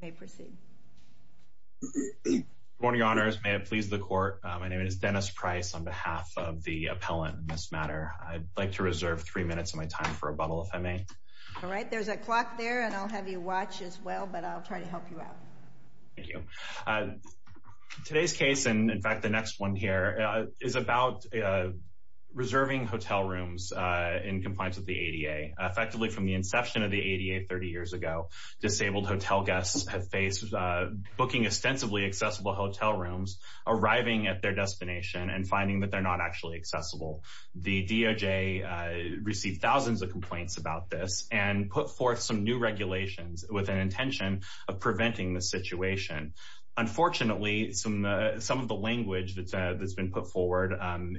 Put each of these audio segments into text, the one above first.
Good morning, Your Honors. May it please the Court. My name is Dennis Price on behalf of the appellant in this matter. I'd like to reserve three minutes of my time for a bubble, if I may. All right. There's a clock there, and I'll have you watch as well, but I'll try to help you out. Thank you. Today's case, and in fact the next one here, is about reserving hotel rooms in compliance with the ADA. Effectively from the inception of the ADA 30 years ago, disabled hotel guests have faced booking extensively accessible hotel rooms, arriving at their destination, and finding that they're not actually accessible. The DOJ received thousands of complaints about this, and put forth some new regulations with an intention of preventing the situation. Unfortunately, some of the language that's been put forward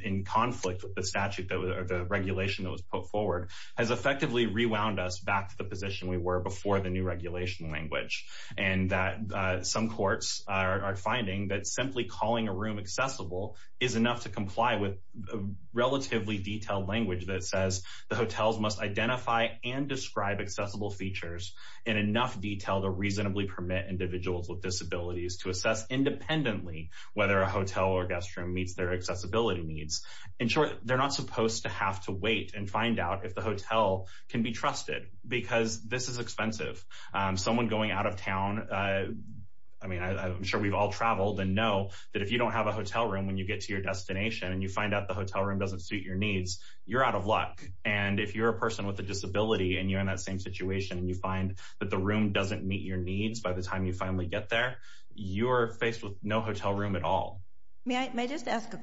in conflict with the statute, or the regulation that was put forward, has effectively rewound us back to the position we were before the new regulation language, and that some courts are finding that simply calling a room accessible is enough to comply with a relatively detailed language that says, the hotels must identify and describe accessible features in enough detail to reasonably permit individuals with disabilities to assess independently whether a hotel or guest room meets their accessibility needs. In short, they're not supposed to have to wait and find out if the hotel room meets their needs. This is expensive. Someone going out of town, I mean, I'm sure we've all traveled and know that if you don't have a hotel room when you get to your destination, and you find out the hotel room doesn't suit your needs, you're out of luck. And if you're a person with a disability, and you're in that same situation, and you find that the room doesn't meet your needs by the time you finally get there, you're faced with no hotel room at all. May I just ask a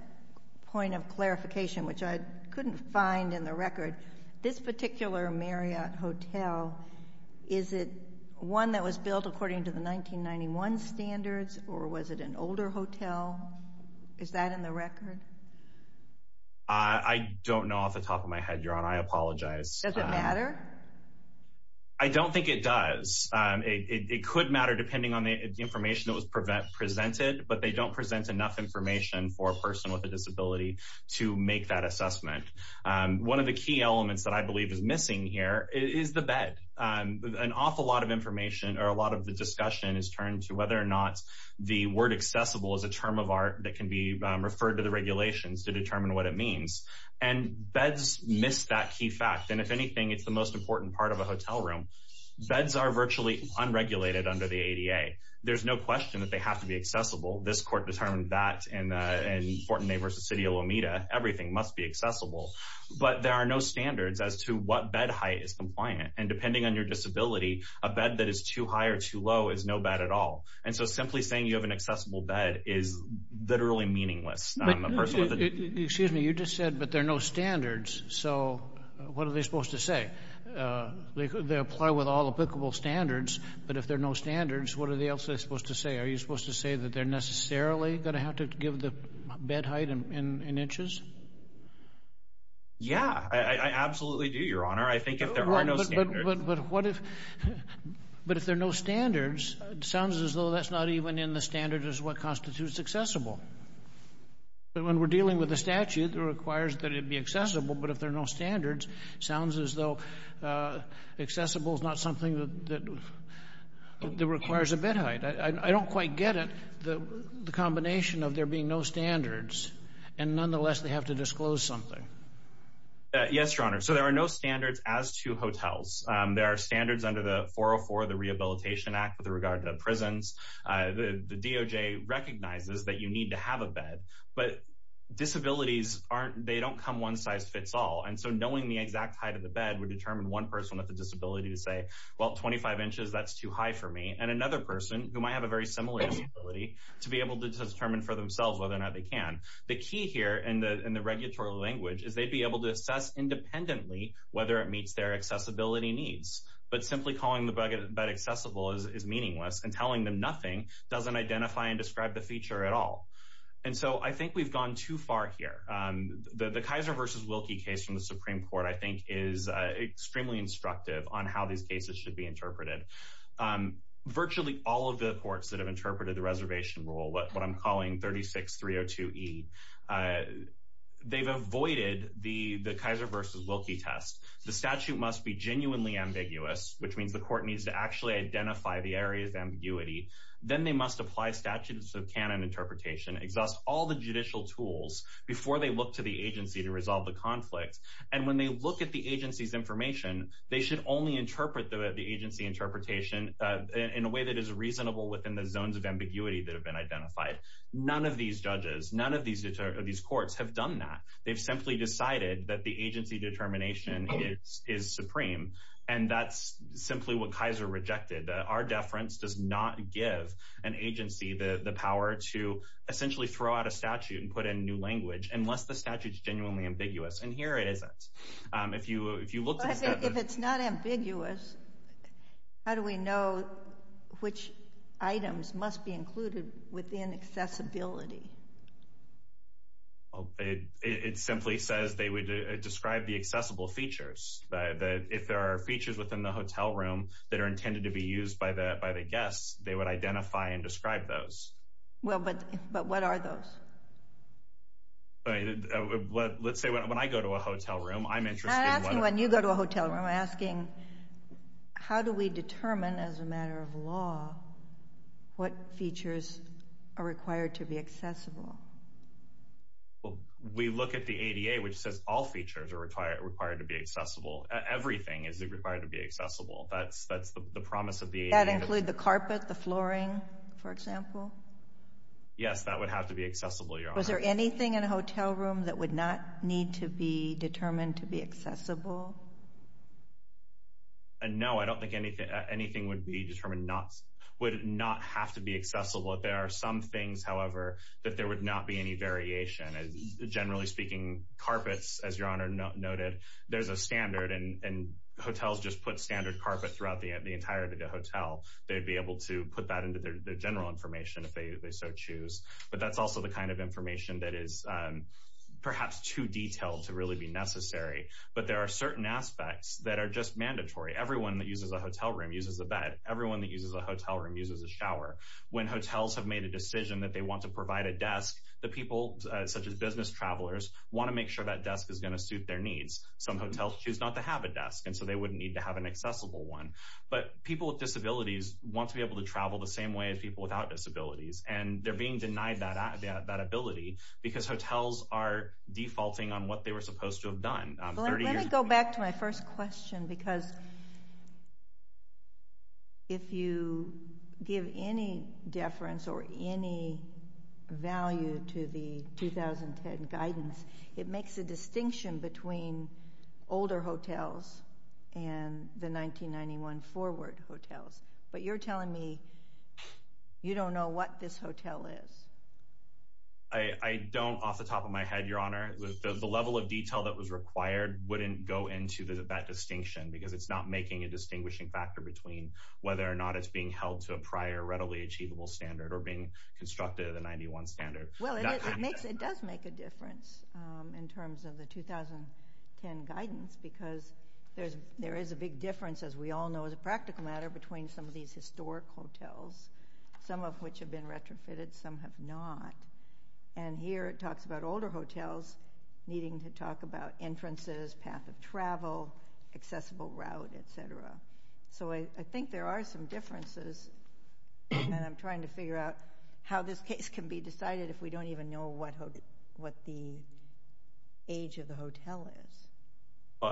point of clarification, which I couldn't find in the record. This particular Marriott hotel, is it one that was built according to the 1991 standards, or was it an older hotel? Is that in the record? I don't know off the top of my head, Your Honor. I apologize. Does it matter? I don't think it does. It could matter depending on the information that was presented, but they don't present enough information for a person with a disability to make that assessment. One of the key elements that I believe is missing here is the bed. An awful lot of information, or a lot of the discussion, is turned to whether or not the word accessible is a term of art that can be referred to the regulations to determine what it means. And beds miss that key fact. And if anything, it's the most important part of a hotel room. Beds are virtually unregulated under the ADA. There's no question that they have to be accessible. This court determined that in Fortnay v. City of Lomita, everything must be accessible. But there are no standards as to what bed height is compliant. And depending on your disability, a bed that is too high or too low is no bad at all. And so simply saying you have an accessible bed is literally meaningless. Excuse me, you just said, but there are no standards. So what are they supposed to say? They apply with all applicable standards, but if there are no standards, what are they supposed to say? Are you supposed to say that they're necessarily going to have to give the bed height in inches? Yeah, I absolutely do, Your Honor. I think if there are no standards. But if there are no standards, it sounds as though that's not even in the standards as what constitutes accessible. But when we're dealing with a statute that requires that it be accessible, but if there are no standards, it sounds as though accessible is not something that requires a bed height. I don't quite get it, the combination of there being no standards, and nonetheless, they have to disclose something. Yes, Your Honor. So there are no standards as to hotels. There are standards under the 404, the Rehabilitation Act with regard to prisons. The DOJ recognizes that you need to have a bed, but disabilities, they don't come one size fits all. And so knowing the exact height of the bed would determine one person with a disability to say, well, 25 inches, that's too high for me, and another person who might have a very similar disability to be able to determine for themselves whether or not they can. The key here in the regulatory language is they'd be able to assess independently whether it meets their accessibility needs. But simply calling the bed accessible is meaningless and telling them nothing doesn't identify and describe the feature at all. And so I think we've gone too far here. The Kaiser v. Wilkie case from the Supreme Court, I think, is extremely instructive on how these cases should be interpreted. Virtually all of the courts that have interpreted the reservation rule, what I'm calling 36302E, they've avoided the Kaiser v. Wilkie test. The statute must be genuinely ambiguous, which means the court needs to actually identify the areas of ambiguity. Then they must apply statutes of canon interpretation, exhaust all the judicial tools before they look to the agency to resolve the conflict. And when they look at the agency's information, they should only interpret the agency interpretation in a way that is reasonable within the zones of ambiguity that have been identified. None of these judges, none of these courts have done that. They've simply decided that the agency determination is supreme, and that's simply what Kaiser rejected. Our deference does not give an agency the power to essentially throw out a statute and put in new language unless the statute is genuinely ambiguous. And here it isn't. If you look to the statute... If it's not ambiguous, how do we know which items must be included within accessibility? It simply says they would describe the accessible features. If there are features within the hotel room that are intended to be used by the guests, they would identify and describe those. Well, but what are those? Let's say when I go to a hotel room, I'm interested... I'm not asking when you go to a hotel room. I'm asking how do we determine as a matter of law what features are required to be accessible? Well, we look at the ADA, which says all features are required to be accessible. Everything is required to be accessible. That's the promise of the ADA. Does that include the carpet, the flooring, for example? Yes, that would have to be accessible, Your Honor. Was there anything in a hotel room that would not need to be determined to be accessible? No, I don't think anything would not have to be accessible. There are some things, however, that there would not be any variation. Generally speaking, carpets, as Your Honor noted, there's a standard, and hotels just put standard carpet throughout the entirety of the hotel. They'd be able to put that into their general information if they so choose. But that's also the kind of information that is perhaps too detailed to really be necessary. But there are certain aspects that are just mandatory. Everyone that uses a hotel room uses a bed. Everyone that uses a hotel room uses a shower. When hotels have made a decision that they want to provide a desk, the people, such as business travelers, want to make sure that some hotels choose not to have a desk, and so they wouldn't need to have an accessible one. But people with disabilities want to be able to travel the same way as people without disabilities, and they're being denied that ability because hotels are defaulting on what they were supposed to have done 30 years ago. Let me go back to my first question because if you give any deference or any value to the 2010 guidance, it makes a distinction between older hotels and the 1991 forward hotels. But you're telling me you don't know what this hotel is. I don't off the top of my head, Your Honor. The level of detail that was required wouldn't go into that distinction because it's not making a distinguishing factor between whether or not it's being held to a prior readily achievable standard or being because there is a big difference, as we all know, as a practical matter between some of these historic hotels, some of which have been retrofitted, some have not. And here it talks about older hotels needing to talk about entrances, path of travel, accessible route, etc. So I think there are some differences, and I'm trying to figure out how this case can be decided if we don't even know what the age of the hotel is.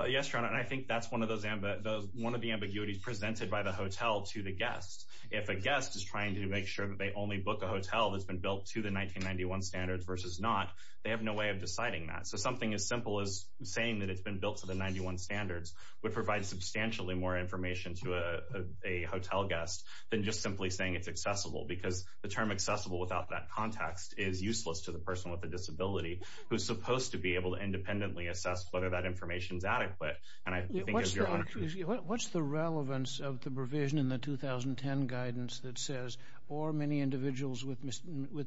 Yes, Your Honor, and I think that's one of the ambiguities presented by the hotel to the guest. If a guest is trying to make sure that they only book a hotel that's been built to the 1991 standards versus not, they have no way of deciding that. So something as simple as saying that it's been built to the 91 standards would provide substantially more information to a hotel guest than just simply saying it's accessible because the term accessible without that context is useless to the person with the disability who's supposed to be able to independently assess whether that information is adequate. What's the relevance of the provision in the 2010 guidance that says, or many individuals with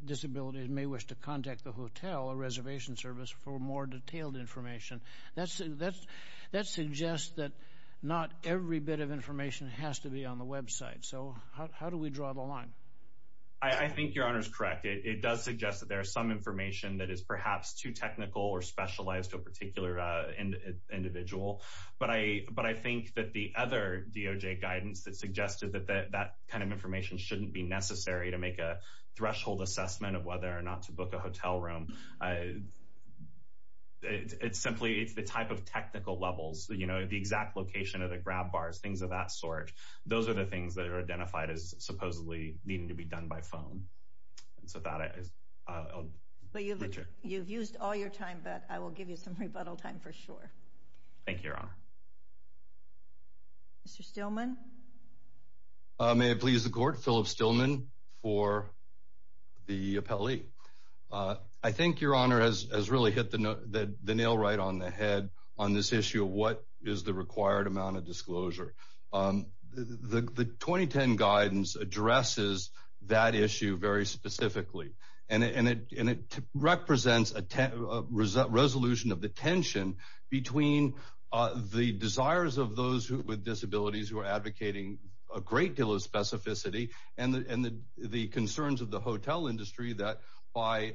disabilities may wish to contact the hotel or reservation service for more detailed information? That suggests that not every bit of information has to be on the I think Your Honor's correct. It does suggest that there's some information that is perhaps too technical or specialized to a particular individual, but I think that the other DOJ guidance that suggested that that kind of information shouldn't be necessary to make a threshold assessment of whether or not to book a hotel room. It's simply it's the type of technical levels, you know, the exact location of the grab bars, things of that sort. Those are the things that are identified as supposedly needing to be done by phone, and so that is. You've used all your time, but I will give you some rebuttal time for sure. Thank you, Your Honor. Mr. Stillman. May it please the Court, Philip Stillman for the appellee. I think Your Honor has really hit the nail right on the head on this issue of what is the required amount of disclosure. The 2010 guidance addresses that issue very specifically, and it represents a resolution of the tension between the desires of those with disabilities who are advocating a great deal of specificity and the concerns of the hotel industry that by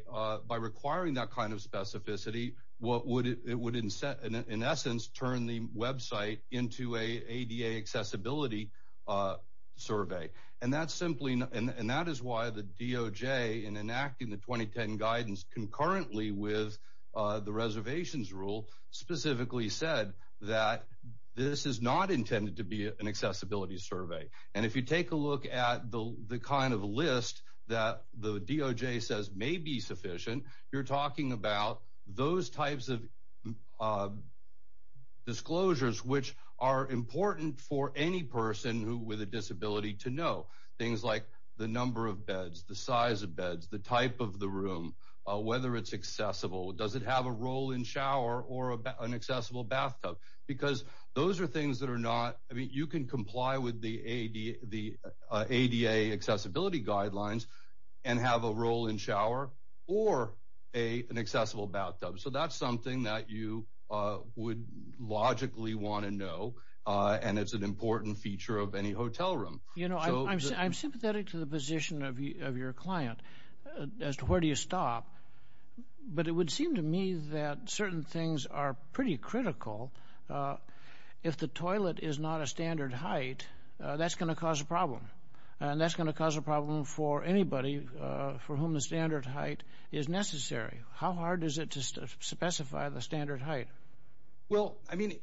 requiring that specificity, it would in essence turn the website into an ADA accessibility survey. And that is why the DOJ, in enacting the 2010 guidance concurrently with the reservations rule, specifically said that this is not intended to be an accessibility survey. And if you take a look at the kind of list that the DOJ says may be sufficient, you're talking about those types of disclosures which are important for any person with a disability to know. Things like the number of beds, the size of beds, the type of the room, whether it's accessible, does it have a role in shower or an accessible bathtub. Because those are things that are not, I mean, you can comply with the ADA accessibility guidelines and have a role in shower or an accessible bathtub. So that's something that you would logically want to know, and it's an important feature of any hotel room. You know, I'm sympathetic to the position of your client as to where do you stop, but it would seem to me that certain things are pretty critical. If the toilet is not a standard height, that's going to cause a problem. And that's going to cause a problem for anybody for whom the standard height is necessary. How hard is it to specify the standard height? Well, I mean,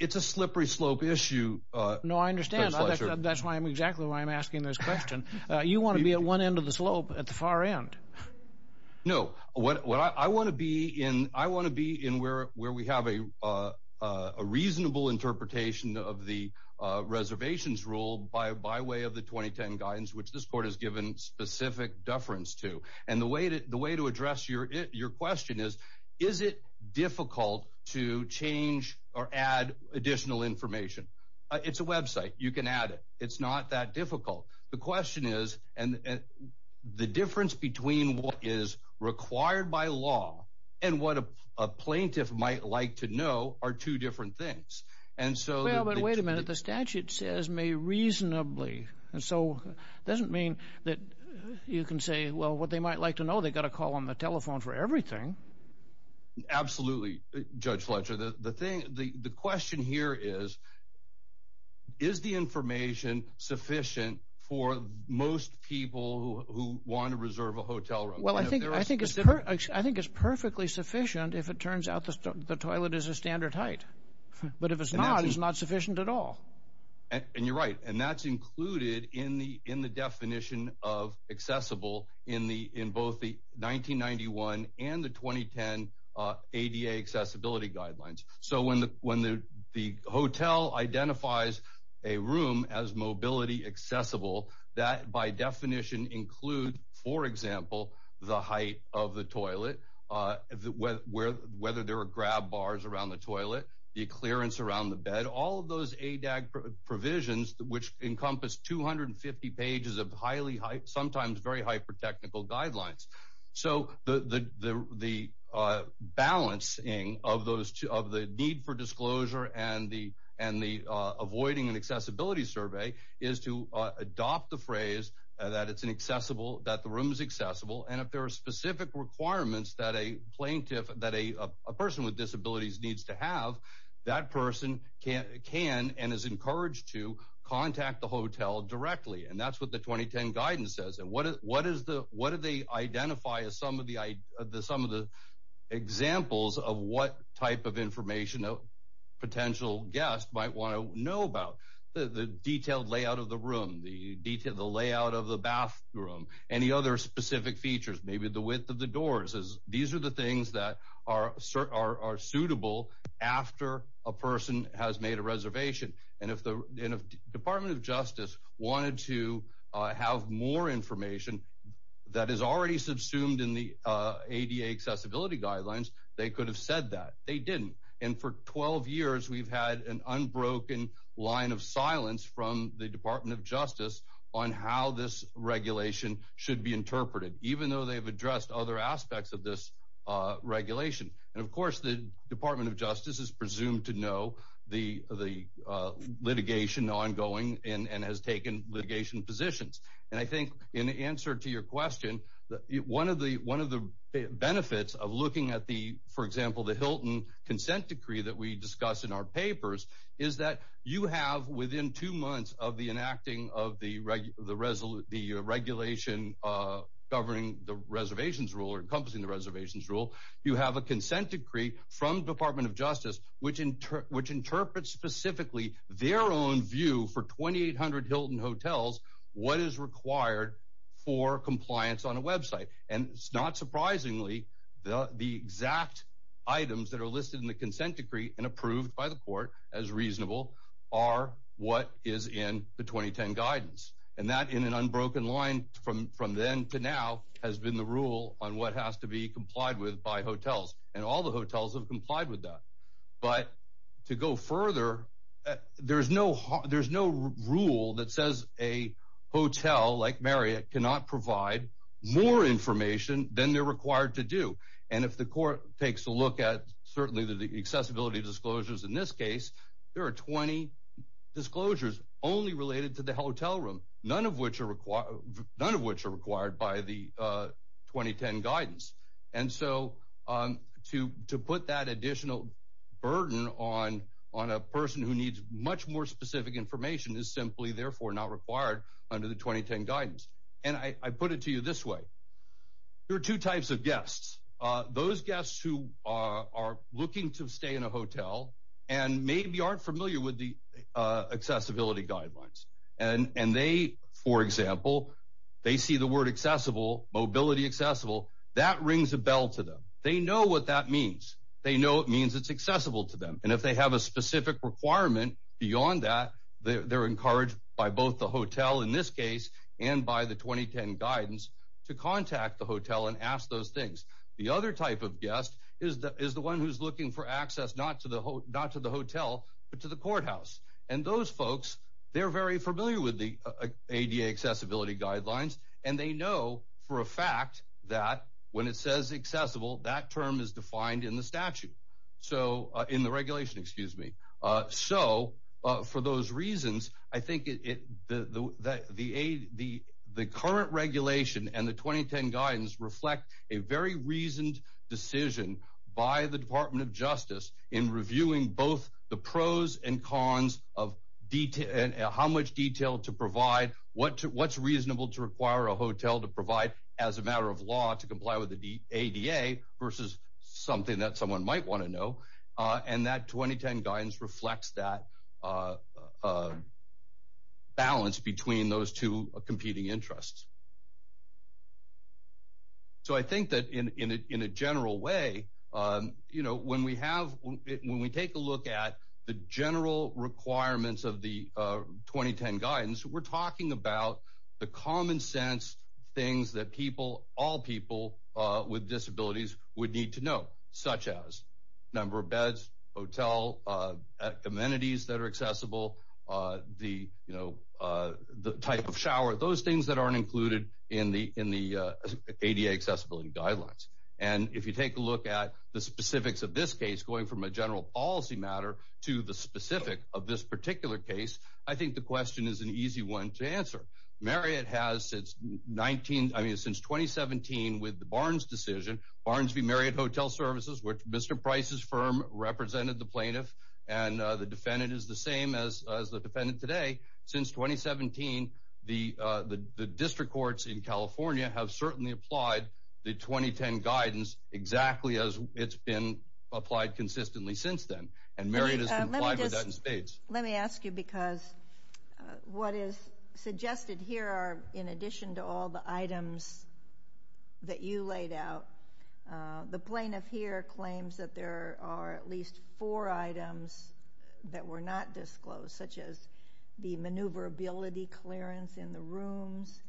it's a slippery slope issue. No, I understand. That's why I'm exactly why I'm asking this question. You want to be at one end of the slope at the far end. No, I want to be in where we have a reasonable interpretation of the reservations rule by way of the 2010 guidance, which this court has given specific deference to. And the way to address your question is, is it difficult to change or add additional information? It's a website. You can add it. It's not that difficult. The question is, and the difference between what is required by law and what a plaintiff might like to know are two different things. And so wait a minute, the statute says may reasonably. And so it doesn't mean that you can say, well, what they might like to know, they've got to call on the telephone for everything. Absolutely. Judge Fletcher, the question here is, is the information sufficient for most people who want to reserve a hotel room? Well, I think it's perfectly sufficient if it turns out the toilet is a standard height. But if it's not, it's not sufficient at all. And you're right. And that's included in the definition of accessible in both the 1991 and the 2010 ADA accessibility guidelines. So when the hotel identifies a room as mobility accessible, that by definition includes, for example, the height of the toilet, whether there are grab bars around the toilet, the clearance around the bed, all of those ADAG provisions, which encompass 250 pages of highly sometimes very hyper-technical guidelines. So the balancing of the need for disclosure and the avoiding an accessibility survey is to adopt the phrase that it's an accessible, that the room is accessible. And if there are specific requirements that a plaintiff, that a person with disabilities needs to have, that person can and is encouraged to have. And that's what the 2010 guidance says. And what do they identify as some of the examples of what type of information a potential guest might want to know about? The detailed layout of the room, the layout of the bathroom, any other specific features, maybe the width of the doors. These are the things that are suitable after a person has made a reservation. And if the have more information that is already subsumed in the ADA accessibility guidelines, they could have said that. They didn't. And for 12 years, we've had an unbroken line of silence from the Department of Justice on how this regulation should be interpreted, even though they've addressed other aspects of this regulation. And of course, the Department of Justice is presumed to the litigation ongoing and has taken litigation positions. And I think in answer to your question, one of the benefits of looking at the, for example, the Hilton consent decree that we discuss in our papers is that you have within two months of the enacting of the regulation governing the reservations rule or encompassing the reservations rule, you have a consent decree from the Department of Justice, which interprets specifically their own view for 2,800 Hilton hotels, what is required for compliance on a website. And it's not surprisingly, the exact items that are listed in the consent decree and approved by the court as reasonable are what is in the 2010 guidance. And that in an unbroken line from then to now has been the rule on what hotels have complied with that. But to go further, there's no rule that says a hotel like Marriott cannot provide more information than they're required to do. And if the court takes a look at certainly the accessibility disclosures in this case, there are 20 disclosures only related to additional burden on a person who needs much more specific information is simply therefore not required under the 2010 guidance. And I put it to you this way. There are two types of guests. Those guests who are looking to stay in a hotel and maybe aren't familiar with the accessibility guidelines. And they, for example, they see the word accessible, mobility accessible, that rings a bell to them. They know what that means. They know it means it's accessible to them. And if they have a specific requirement beyond that, they're encouraged by both the hotel in this case and by the 2010 guidance to contact the hotel and ask those things. The other type of guest is the one who's looking for access not to the hotel, but to the courthouse. And those folks, they're very familiar with the ADA accessibility guidelines. And they know for a fact that when it says accessible, that term is defined in the statute. So in the regulation, excuse me. So for those reasons, I think the current regulation and the 2010 guidance reflect a very reasoned decision by the Department of Justice in reviewing both the pros and cons of how much detail to provide, what's reasonable to require a hotel to provide as a matter of law to comply with the ADA versus something that someone might want to know. And that 2010 guidance reflects that balance between those two competing interests. So I think that in a general way, you know, when we have, when we take a look at the general requirements of the 2010 guidance, we're talking about the common sense things that people, all people with disabilities would need to know, such as number of beds, hotel amenities that are accessible, the, you know, the type of shower, those things that aren't included in the ADA accessibility guidelines. And if you take a look at the specifics of this case, going from a general policy matter to the specific of this particular case, I think the question is an easy one to answer. Marriott has since 19, I mean, since 2017 with the Barnes decision, Barnes v. Marriott Hotel Services, which Mr. Price's firm represented the plaintiff and the defendant is the same as the defendant today. Since 2017, the district courts in California have certainly applied the 2010 guidance exactly as it's been applied consistently since then. And Marriott has complied with that in spades. Let me ask you, because what is suggested here are, in addition to all the items that you laid out, the plaintiff here claims that there are at least four items that were not disclosed, such as the maneuverability clearance in the rooms,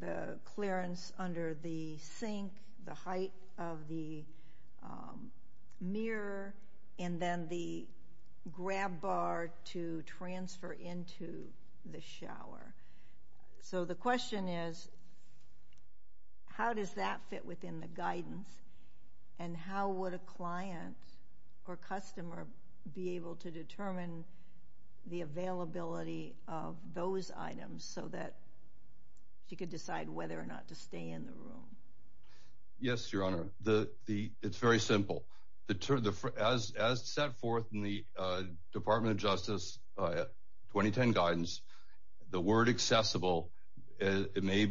the clearance under the sink, the height of the mirror, and then the grab bar to transfer into the shower. So the question is, how does that fit within the guidance, and how would a client or customer be able to determine the availability of those items so that she could decide whether or not to stay in the room? Yes, Your Honor. It's very simple. As set forth in the Department of Justice 2010 guidance, the word accessible may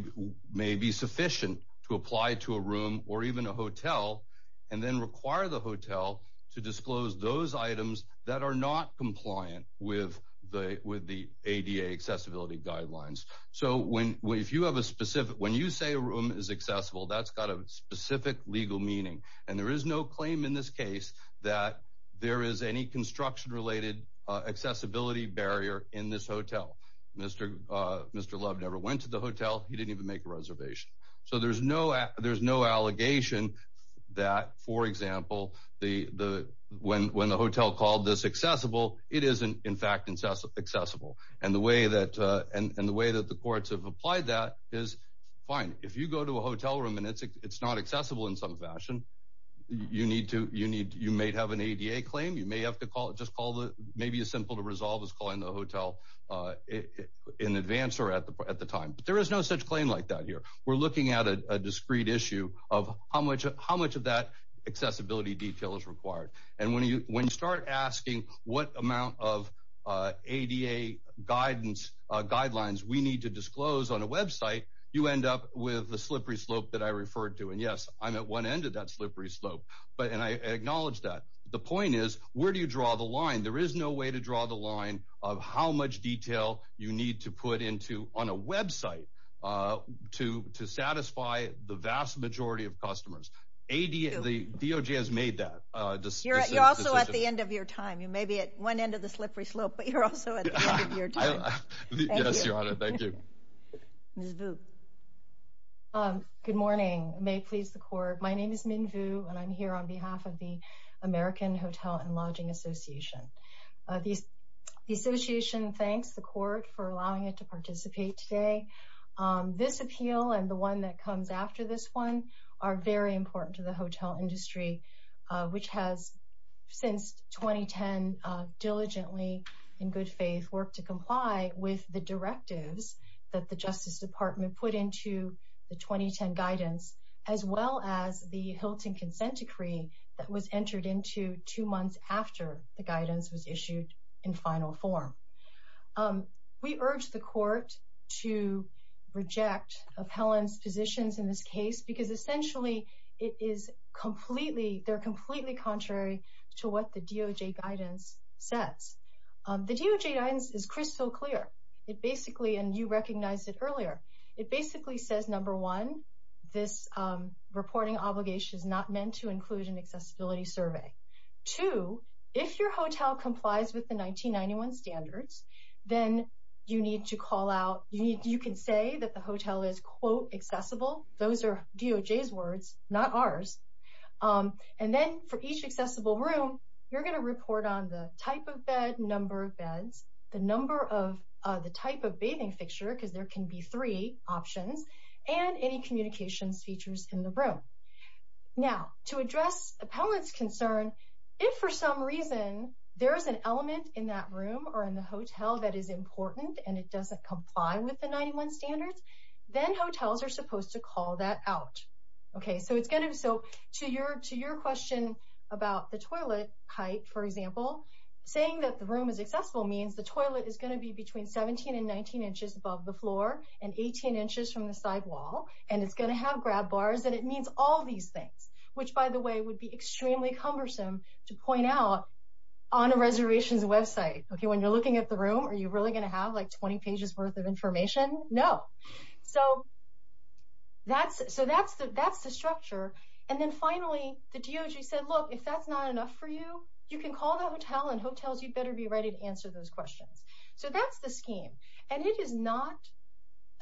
be sufficient to apply to a room or even a hotel and then require the hotel to disclose those items that are not compliant with the ADA accessibility guidelines. So when you say a room is accessible, that's got a specific legal meaning, and there is no claim in this case that there is any construction-related accessibility barrier in this hotel. Mr. Love never went to the hotel. He didn't even make a reservation. So there's no allegation that, for example, when the hotel called this accessible, it isn't, in fact, accessible. And the way that the courts have applied that is, fine, if you go to a hotel room and it's not accessible in some fashion, you may have an ADA claim. Maybe as simple to resolve as calling the hotel in advance or at the time. But there is no such claim like that here. We're looking at a discrete issue of how much of that accessibility detail is required. And when you start asking what amount of ADA guidelines we need to disclose on a website, you end up with the slippery slope that I referred to. And yes, I'm at one end of that slippery slope, and I acknowledge that. The point is, where do you draw the line? There is no way to draw the line of how much detail you need to put on a website to satisfy the vast majority of customers. The DOJ has made that decision. You're also at the end of your time. You may be at one end of the slippery slope, but you're also at the end of your time. Yes, Your Honor. Thank you. Ms. Vu. Good morning. May it please the Court. My name is Min Vu, and I'm here on behalf of the American Hotel and Lodging Association. The Association thanks the Court for allowing it to participate today. This appeal and the one that comes after this one are very important to the hotel industry, which has, since 2010, diligently, in good faith, worked to comply with the directives that the Justice Department put into the 2010 guidance, as well as the Hilton Consent Decree that was entered into two months after the guidance was issued in final form. We urge the Court to reject appellants' positions in this case, because essentially, it is completely, they're completely contrary to what the DOJ guidance says. The DOJ guidance is crystal clear. It basically, and you recognized it earlier, it basically says, number one, this reporting obligation is not meant to include an accessibility survey. Two, if your hotel complies with the 1991 standards, then you need to call out, you can say that the hotel is, quote, accessible. Those are DOJ's words, not ours. And then, for each accessible room, you're going to report on the type of bed, number of beds, the number of, the type of bathing fixture, because there can be three options, and any communications features in the room. Now, to address appellant's concern, if for some reason there is an element in that room or in the hotel that is important, and it doesn't comply with the 91 standards, then hotels are supposed to call that out. Okay, so it's going to, so to your, to your question about the toilet height, for example, saying that the room is accessible means the toilet is going to be between 17 and 19 inches above the floor, and 18 inches from the side wall, and it's going to have grab bars, and it means all these things, which, by the way, would be extremely cumbersome to point out on a reservation's website. Okay, when you're looking at the room, are you really going to have, like, 20 pages worth of information? No. So that's, so that's the, that's the structure. And then, finally, the DOJ said, look, if that's not enough for you, you can call the hotel, and hotels, you'd better be ready to answer those questions. So that's the scheme. And it is not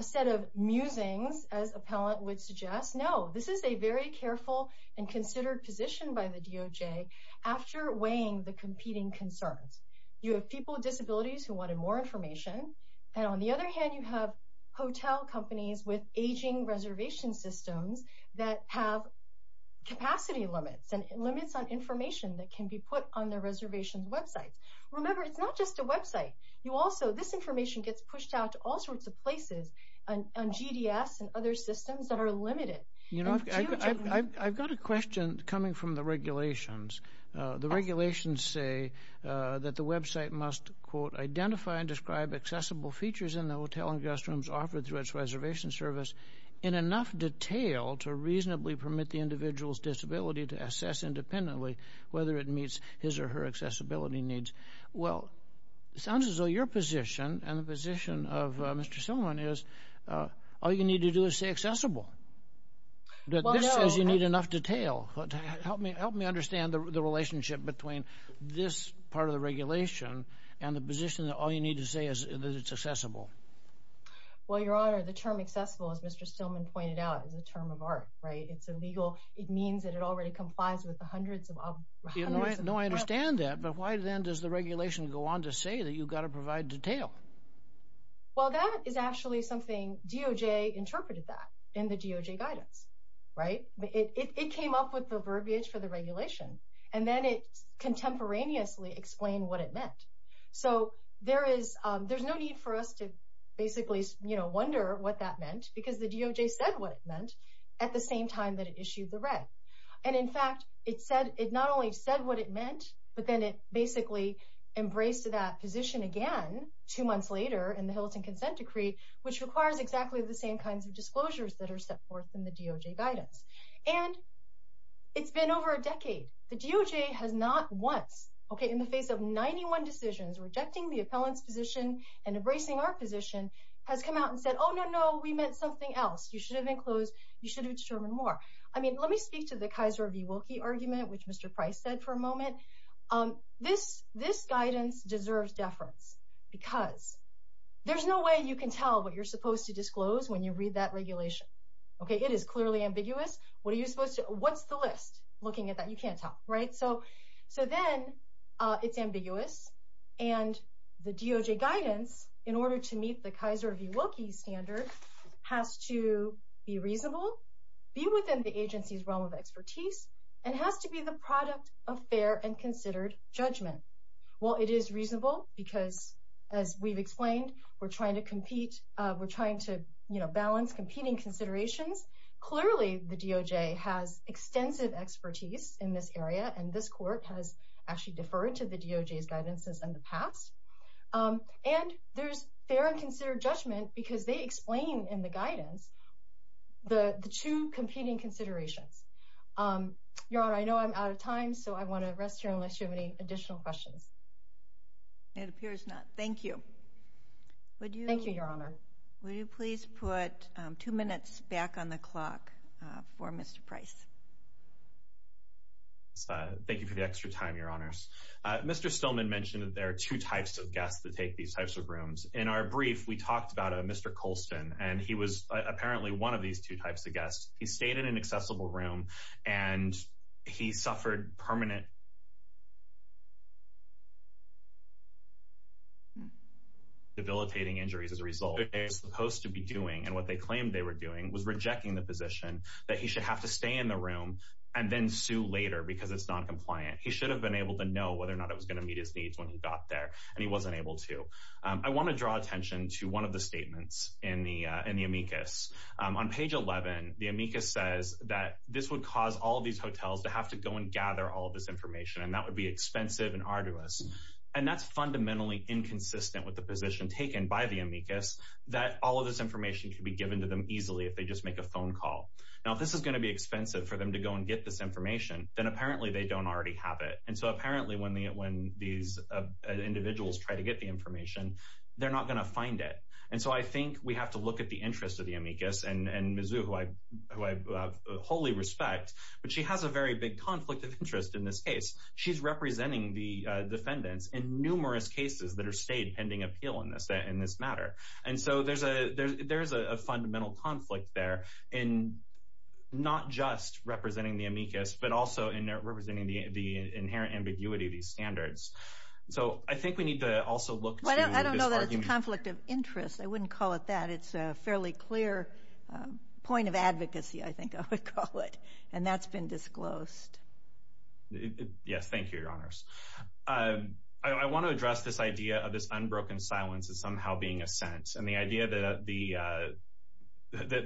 a set of musings, as appellant would suggest. No, this is a very careful and considered position by the DOJ after weighing the competing concerns. You have people with disabilities who wanted more information, and on the other hand, you have hotel companies with aging reservation systems that have capacity limits, and limits on information that it's not just a website. You also, this information gets pushed out to all sorts of places, on GDS and other systems that are limited. You know, I've got a question coming from the regulations. The regulations say that the website must, quote, identify and describe accessible features in the hotel and guest rooms offered through its reservation service in enough detail to reasonably permit the individual's disability to assess independently whether it meets his or her accessibility needs. Well, it sounds as though your position, and the position of Mr. Stillman is, all you need to do is say accessible. That this says you need enough detail. Help me understand the relationship between this part of the regulation and the position that all you need to say is that it's accessible. Well, Your Honor, the term accessible, as Mr. Stillman pointed out, is a term of art, right? It means that it already complies with the hundreds of... No, I understand that, but why then does the regulation go on to say that you've got to provide detail? Well, that is actually something DOJ interpreted that in the DOJ guidance, right? It came up with the verbiage for the regulation, and then it contemporaneously explained what it meant. So, there is, there's no need for us to basically, you know, wonder what that meant, because the DOJ said what it meant at the same time that it issued the red. And in fact, it said, it not only said what it meant, but then it basically embraced that position again two months later in the Hilton Consent Decree, which requires exactly the same kinds of disclosures that are set forth in the DOJ guidance. And it's been over a decade. The DOJ has not once, okay, in the face of 91 decisions, rejecting the appellant's position and embracing our position, has come out and said, oh no, no, we meant something else. You should have enclosed, you should have determined more. I mean, let me speak to the Kaiser v. Wilkie argument, which Mr. Price said for a moment. This guidance deserves deference, because there's no way you can tell what you're supposed to disclose when you read that regulation, okay? It is clearly ambiguous. What are you supposed to, what's the list looking at that? You can't tell, right? So, so then it's ambiguous. And the DOJ guidance, in order to meet the Kaiser v. Wilkie standard, has to be reasonable, be within the agency's realm of expertise, and has to be the product of fair and considered judgment. Well, it is reasonable, because as we've explained, we're trying to have extensive expertise in this area, and this court has actually deferred to the DOJ's guidance in the past. And there's fair and considered judgment, because they explain in the guidance the two competing considerations. Your Honor, I know I'm out of time, so I want to rest here unless you have any additional questions. It appears not. Thank you. Thank you, Your Honor. Will you please put two minutes back on the clock for Mr. Price? Thank you for the extra time, Your Honors. Mr. Stillman mentioned that there are two types of guests that take these types of rooms. In our brief, we talked about a Mr. Colston, and he was apparently one of these two types of guests. He stayed in an accessible room, and he suffered permanent debilitating injuries as a result. What they were supposed to be doing, and what they claimed they were doing, was rejecting the position that he should have to stay in the room and then sue later because it's noncompliant. He should have been able to know whether or not it was going to meet his needs when he got there, and he wasn't able to. I want to draw attention to one of the statements in the amicus. On page 11, the amicus says that this would cause all these hotels to gather all of this information, and that would be expensive and arduous. That's fundamentally inconsistent with the position taken by the amicus that all of this information could be given to them easily if they just make a phone call. If this is going to be expensive for them to go and get this information, then apparently they don't already have it. Apparently, when these individuals try to get the information, they're not going to find it. I think we have to look at the interest of the amicus and Mizzou, who I wholly respect, but she has a very big conflict of interest in this case. She's representing the defendants in numerous cases that are stayed pending appeal in this matter. There's a fundamental conflict there in not just representing the amicus, but also in representing the inherent ambiguity of these standards. I think we need to also look to this argument. I don't know that it's a conflict of interest. I wouldn't call it that. It's a fairly clear point of advocacy, I think I would call it, and that's been disclosed. Yes, thank you, Your Honors. I want to address this idea of this unbroken silence as somehow being a sentence, and the idea that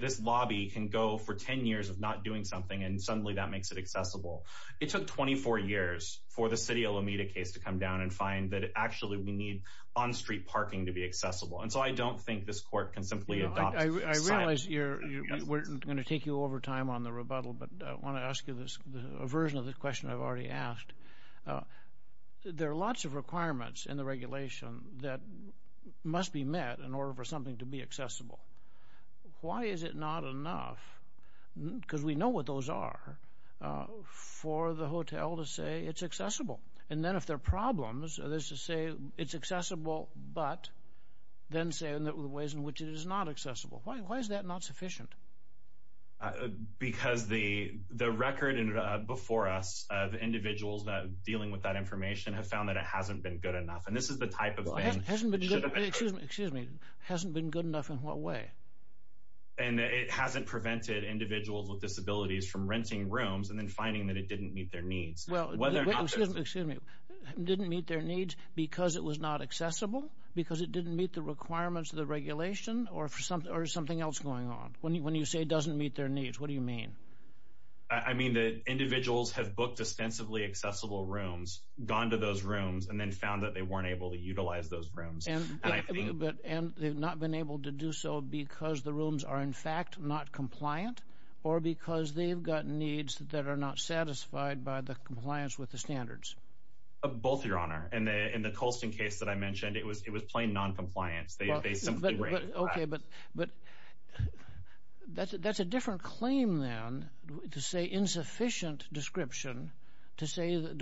this lobby can go for 10 years of not doing something, and suddenly that makes it accessible. It took 24 years for the City of Lomita case to come down and find that actually we need on-street parking to be accessible, and so I don't think this Court can simply adopt silence. I realize we're going to take you over time on the rebuttal, but I want to ask you a version of the question I've already asked. There are lots of requirements in the regulation that must be met in order for something to be accessible. Why is it not enough, because we know what those are, for the hotel to say it's accessible, and then if there are problems, there's to say it's accessible, but then say in the ways in which it is not accessible. Why is that not sufficient? Because the record before us of individuals that are dealing with that information have found that it hasn't been good enough, and this is the type of thing. Excuse me, excuse me. Hasn't been good enough in what way? And it hasn't prevented individuals with disabilities from renting rooms and then finding that it didn't meet their needs. Well, excuse me. Didn't meet their needs because it was not accessible? Because it didn't meet the requirements of the regulation? Or is something else going on? When you say it doesn't meet their needs, what do you mean? I mean that individuals have booked dispensably accessible rooms, gone to those rooms, and then found that they weren't able to utilize those rooms. And they've not been able to do so because the rooms are in fact not compliant, or because they've got needs that are not satisfied by the compliance with the standards. Both, your honor. In the Colston case that I mentioned, it was plain non-compliance. Okay, but that's a different claim, then, to say insufficient description,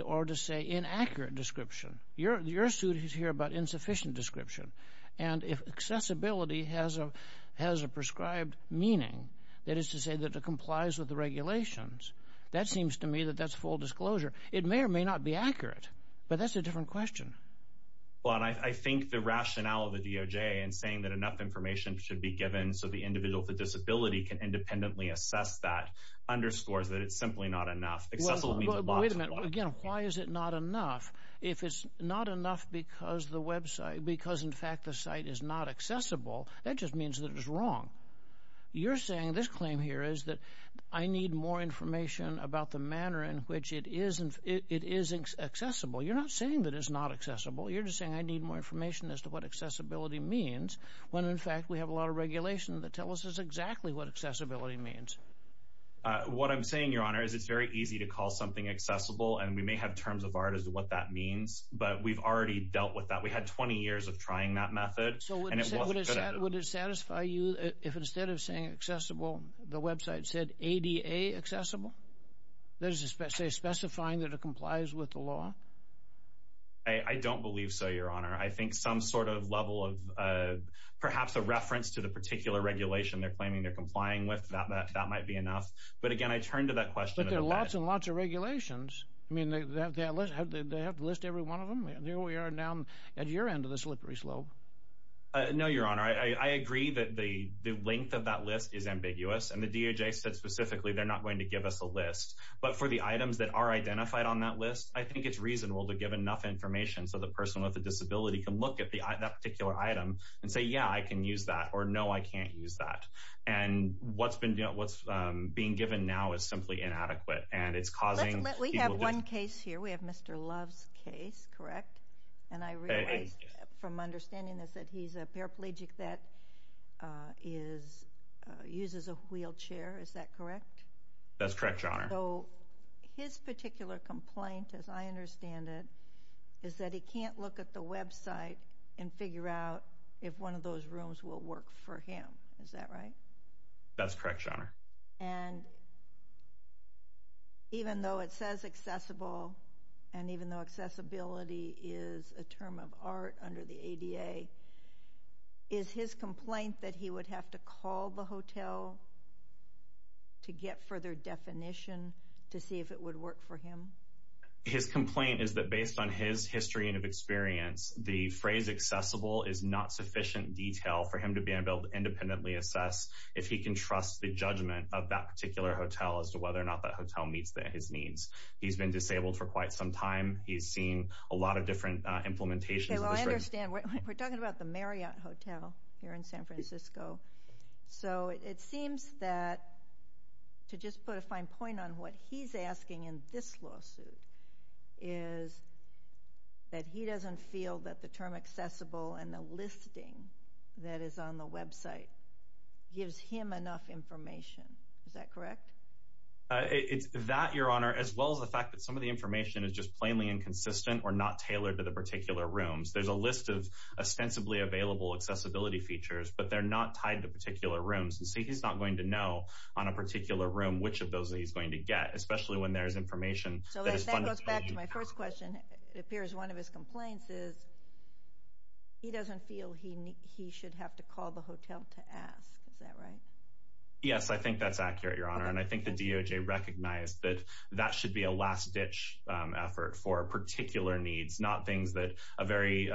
or to say inaccurate description. Your suit is here about insufficient description. And if accessibility has a prescribed meaning, that is to say that it complies with the regulations, that seems to me that that's full disclosure. It may or may not be accurate, but that's a different question. Well, and I think the rationale of the DOJ in saying that enough information should be given so the individual with a disability can independently assess that underscores that it's simply not enough. Accessible means a lot. Again, why is it not enough? If it's not enough because the website, because in fact the site is not accessible, that just means that it's wrong. You're saying this claim here is that I need more information about the manner in which it is accessible. You're not saying that it's not accessible. You're just saying I need more information as to what accessibility means, when in fact we have a lot of regulation that tells us exactly what accessibility means. Uh, what I'm saying, Your Honor, is it's very easy to call something accessible and we may have terms of art as to what that means, but we've already dealt with that. We had 20 years of trying that method. So would it satisfy you if instead of saying accessible, the website said ADA accessible? That is to say specifying that it complies with the law? I don't believe so, Your Honor. I think some sort of level of perhaps a reference to the particular regulation they're enough. But again, I turn to that question. But there are lots and lots of regulations. I mean, they have to list every one of them. Here we are now at your end of the slippery slope. No, Your Honor. I agree that the length of that list is ambiguous, and the DOJ said specifically they're not going to give us a list. But for the items that are identified on that list, I think it's reasonable to give enough information so the person with a disability can look at that item and say, yeah, I can use that or no, I can't use that. And what's being given now is simply inadequate. We have one case here. We have Mr. Love's case, correct? And I realize from understanding this that he's a paraplegic that uses a wheelchair, is that correct? That's correct, Your Honor. So his particular complaint, as I understand it, is that he can't look at the website and figure out if one of those rooms will work for him. Is that right? That's correct, Your Honor. And even though it says accessible, and even though accessibility is a term of art under the ADA, is his complaint that he would have to call the hotel to get further definition to see if it would work for him? His complaint is that based on his history and experience, the phrase accessible is not sufficient detail for him to be able to independently assess if he can trust the judgment of that particular hotel as to whether or not that hotel meets his needs. He's been disabled for quite some time. He's seen a lot of different implementations. I understand. We're talking about the Marriott Hotel here in San Francisco. So it seems that, to just put a fine point on what he's asking in this lawsuit, is that he doesn't feel that the term accessible and the listing that is on the website gives him enough information. Is that correct? It's that, Your Honor, as well as the fact that some of the information is just plainly inconsistent or not tailored to the particular rooms. There's a list of ostensibly available accessibility features, but they're not tied to particular rooms. And so he's not going to know on a particular room which of those he's going to get, especially when there's information. So that goes back to my first question. It appears one of his complaints is he doesn't feel he should have to call the hotel to ask. Is that right? Yes, I think that's accurate, Your Honor. And I think the DOJ recognized that that should be a last-ditch effort for particular needs, not things that a very,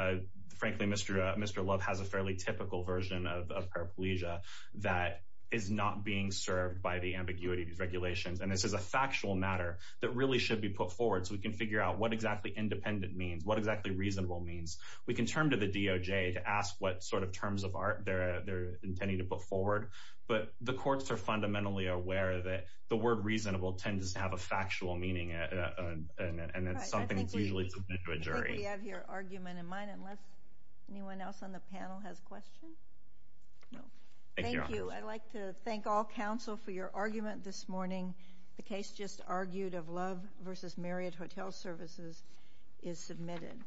frankly, Mr. Love has a fairly typical version of paraplegia that is not being served by the ambiguity of these regulations. And this is a factual matter that really should be put forward so we can figure out what exactly independent means, what exactly reasonable means. We can turn to the DOJ to ask what sort of terms of art they're intending to put forward. But the courts are fundamentally aware that the word reasonable tends to have a factual meaning, and it's something that's usually submitted to a jury. I think we have your argument in mind, unless anyone else on the panel has questions? No. Thank you. I'd like to thank all counsel for your argument this morning. The case just argued of Love v. Marriott Hotel Services is submitted.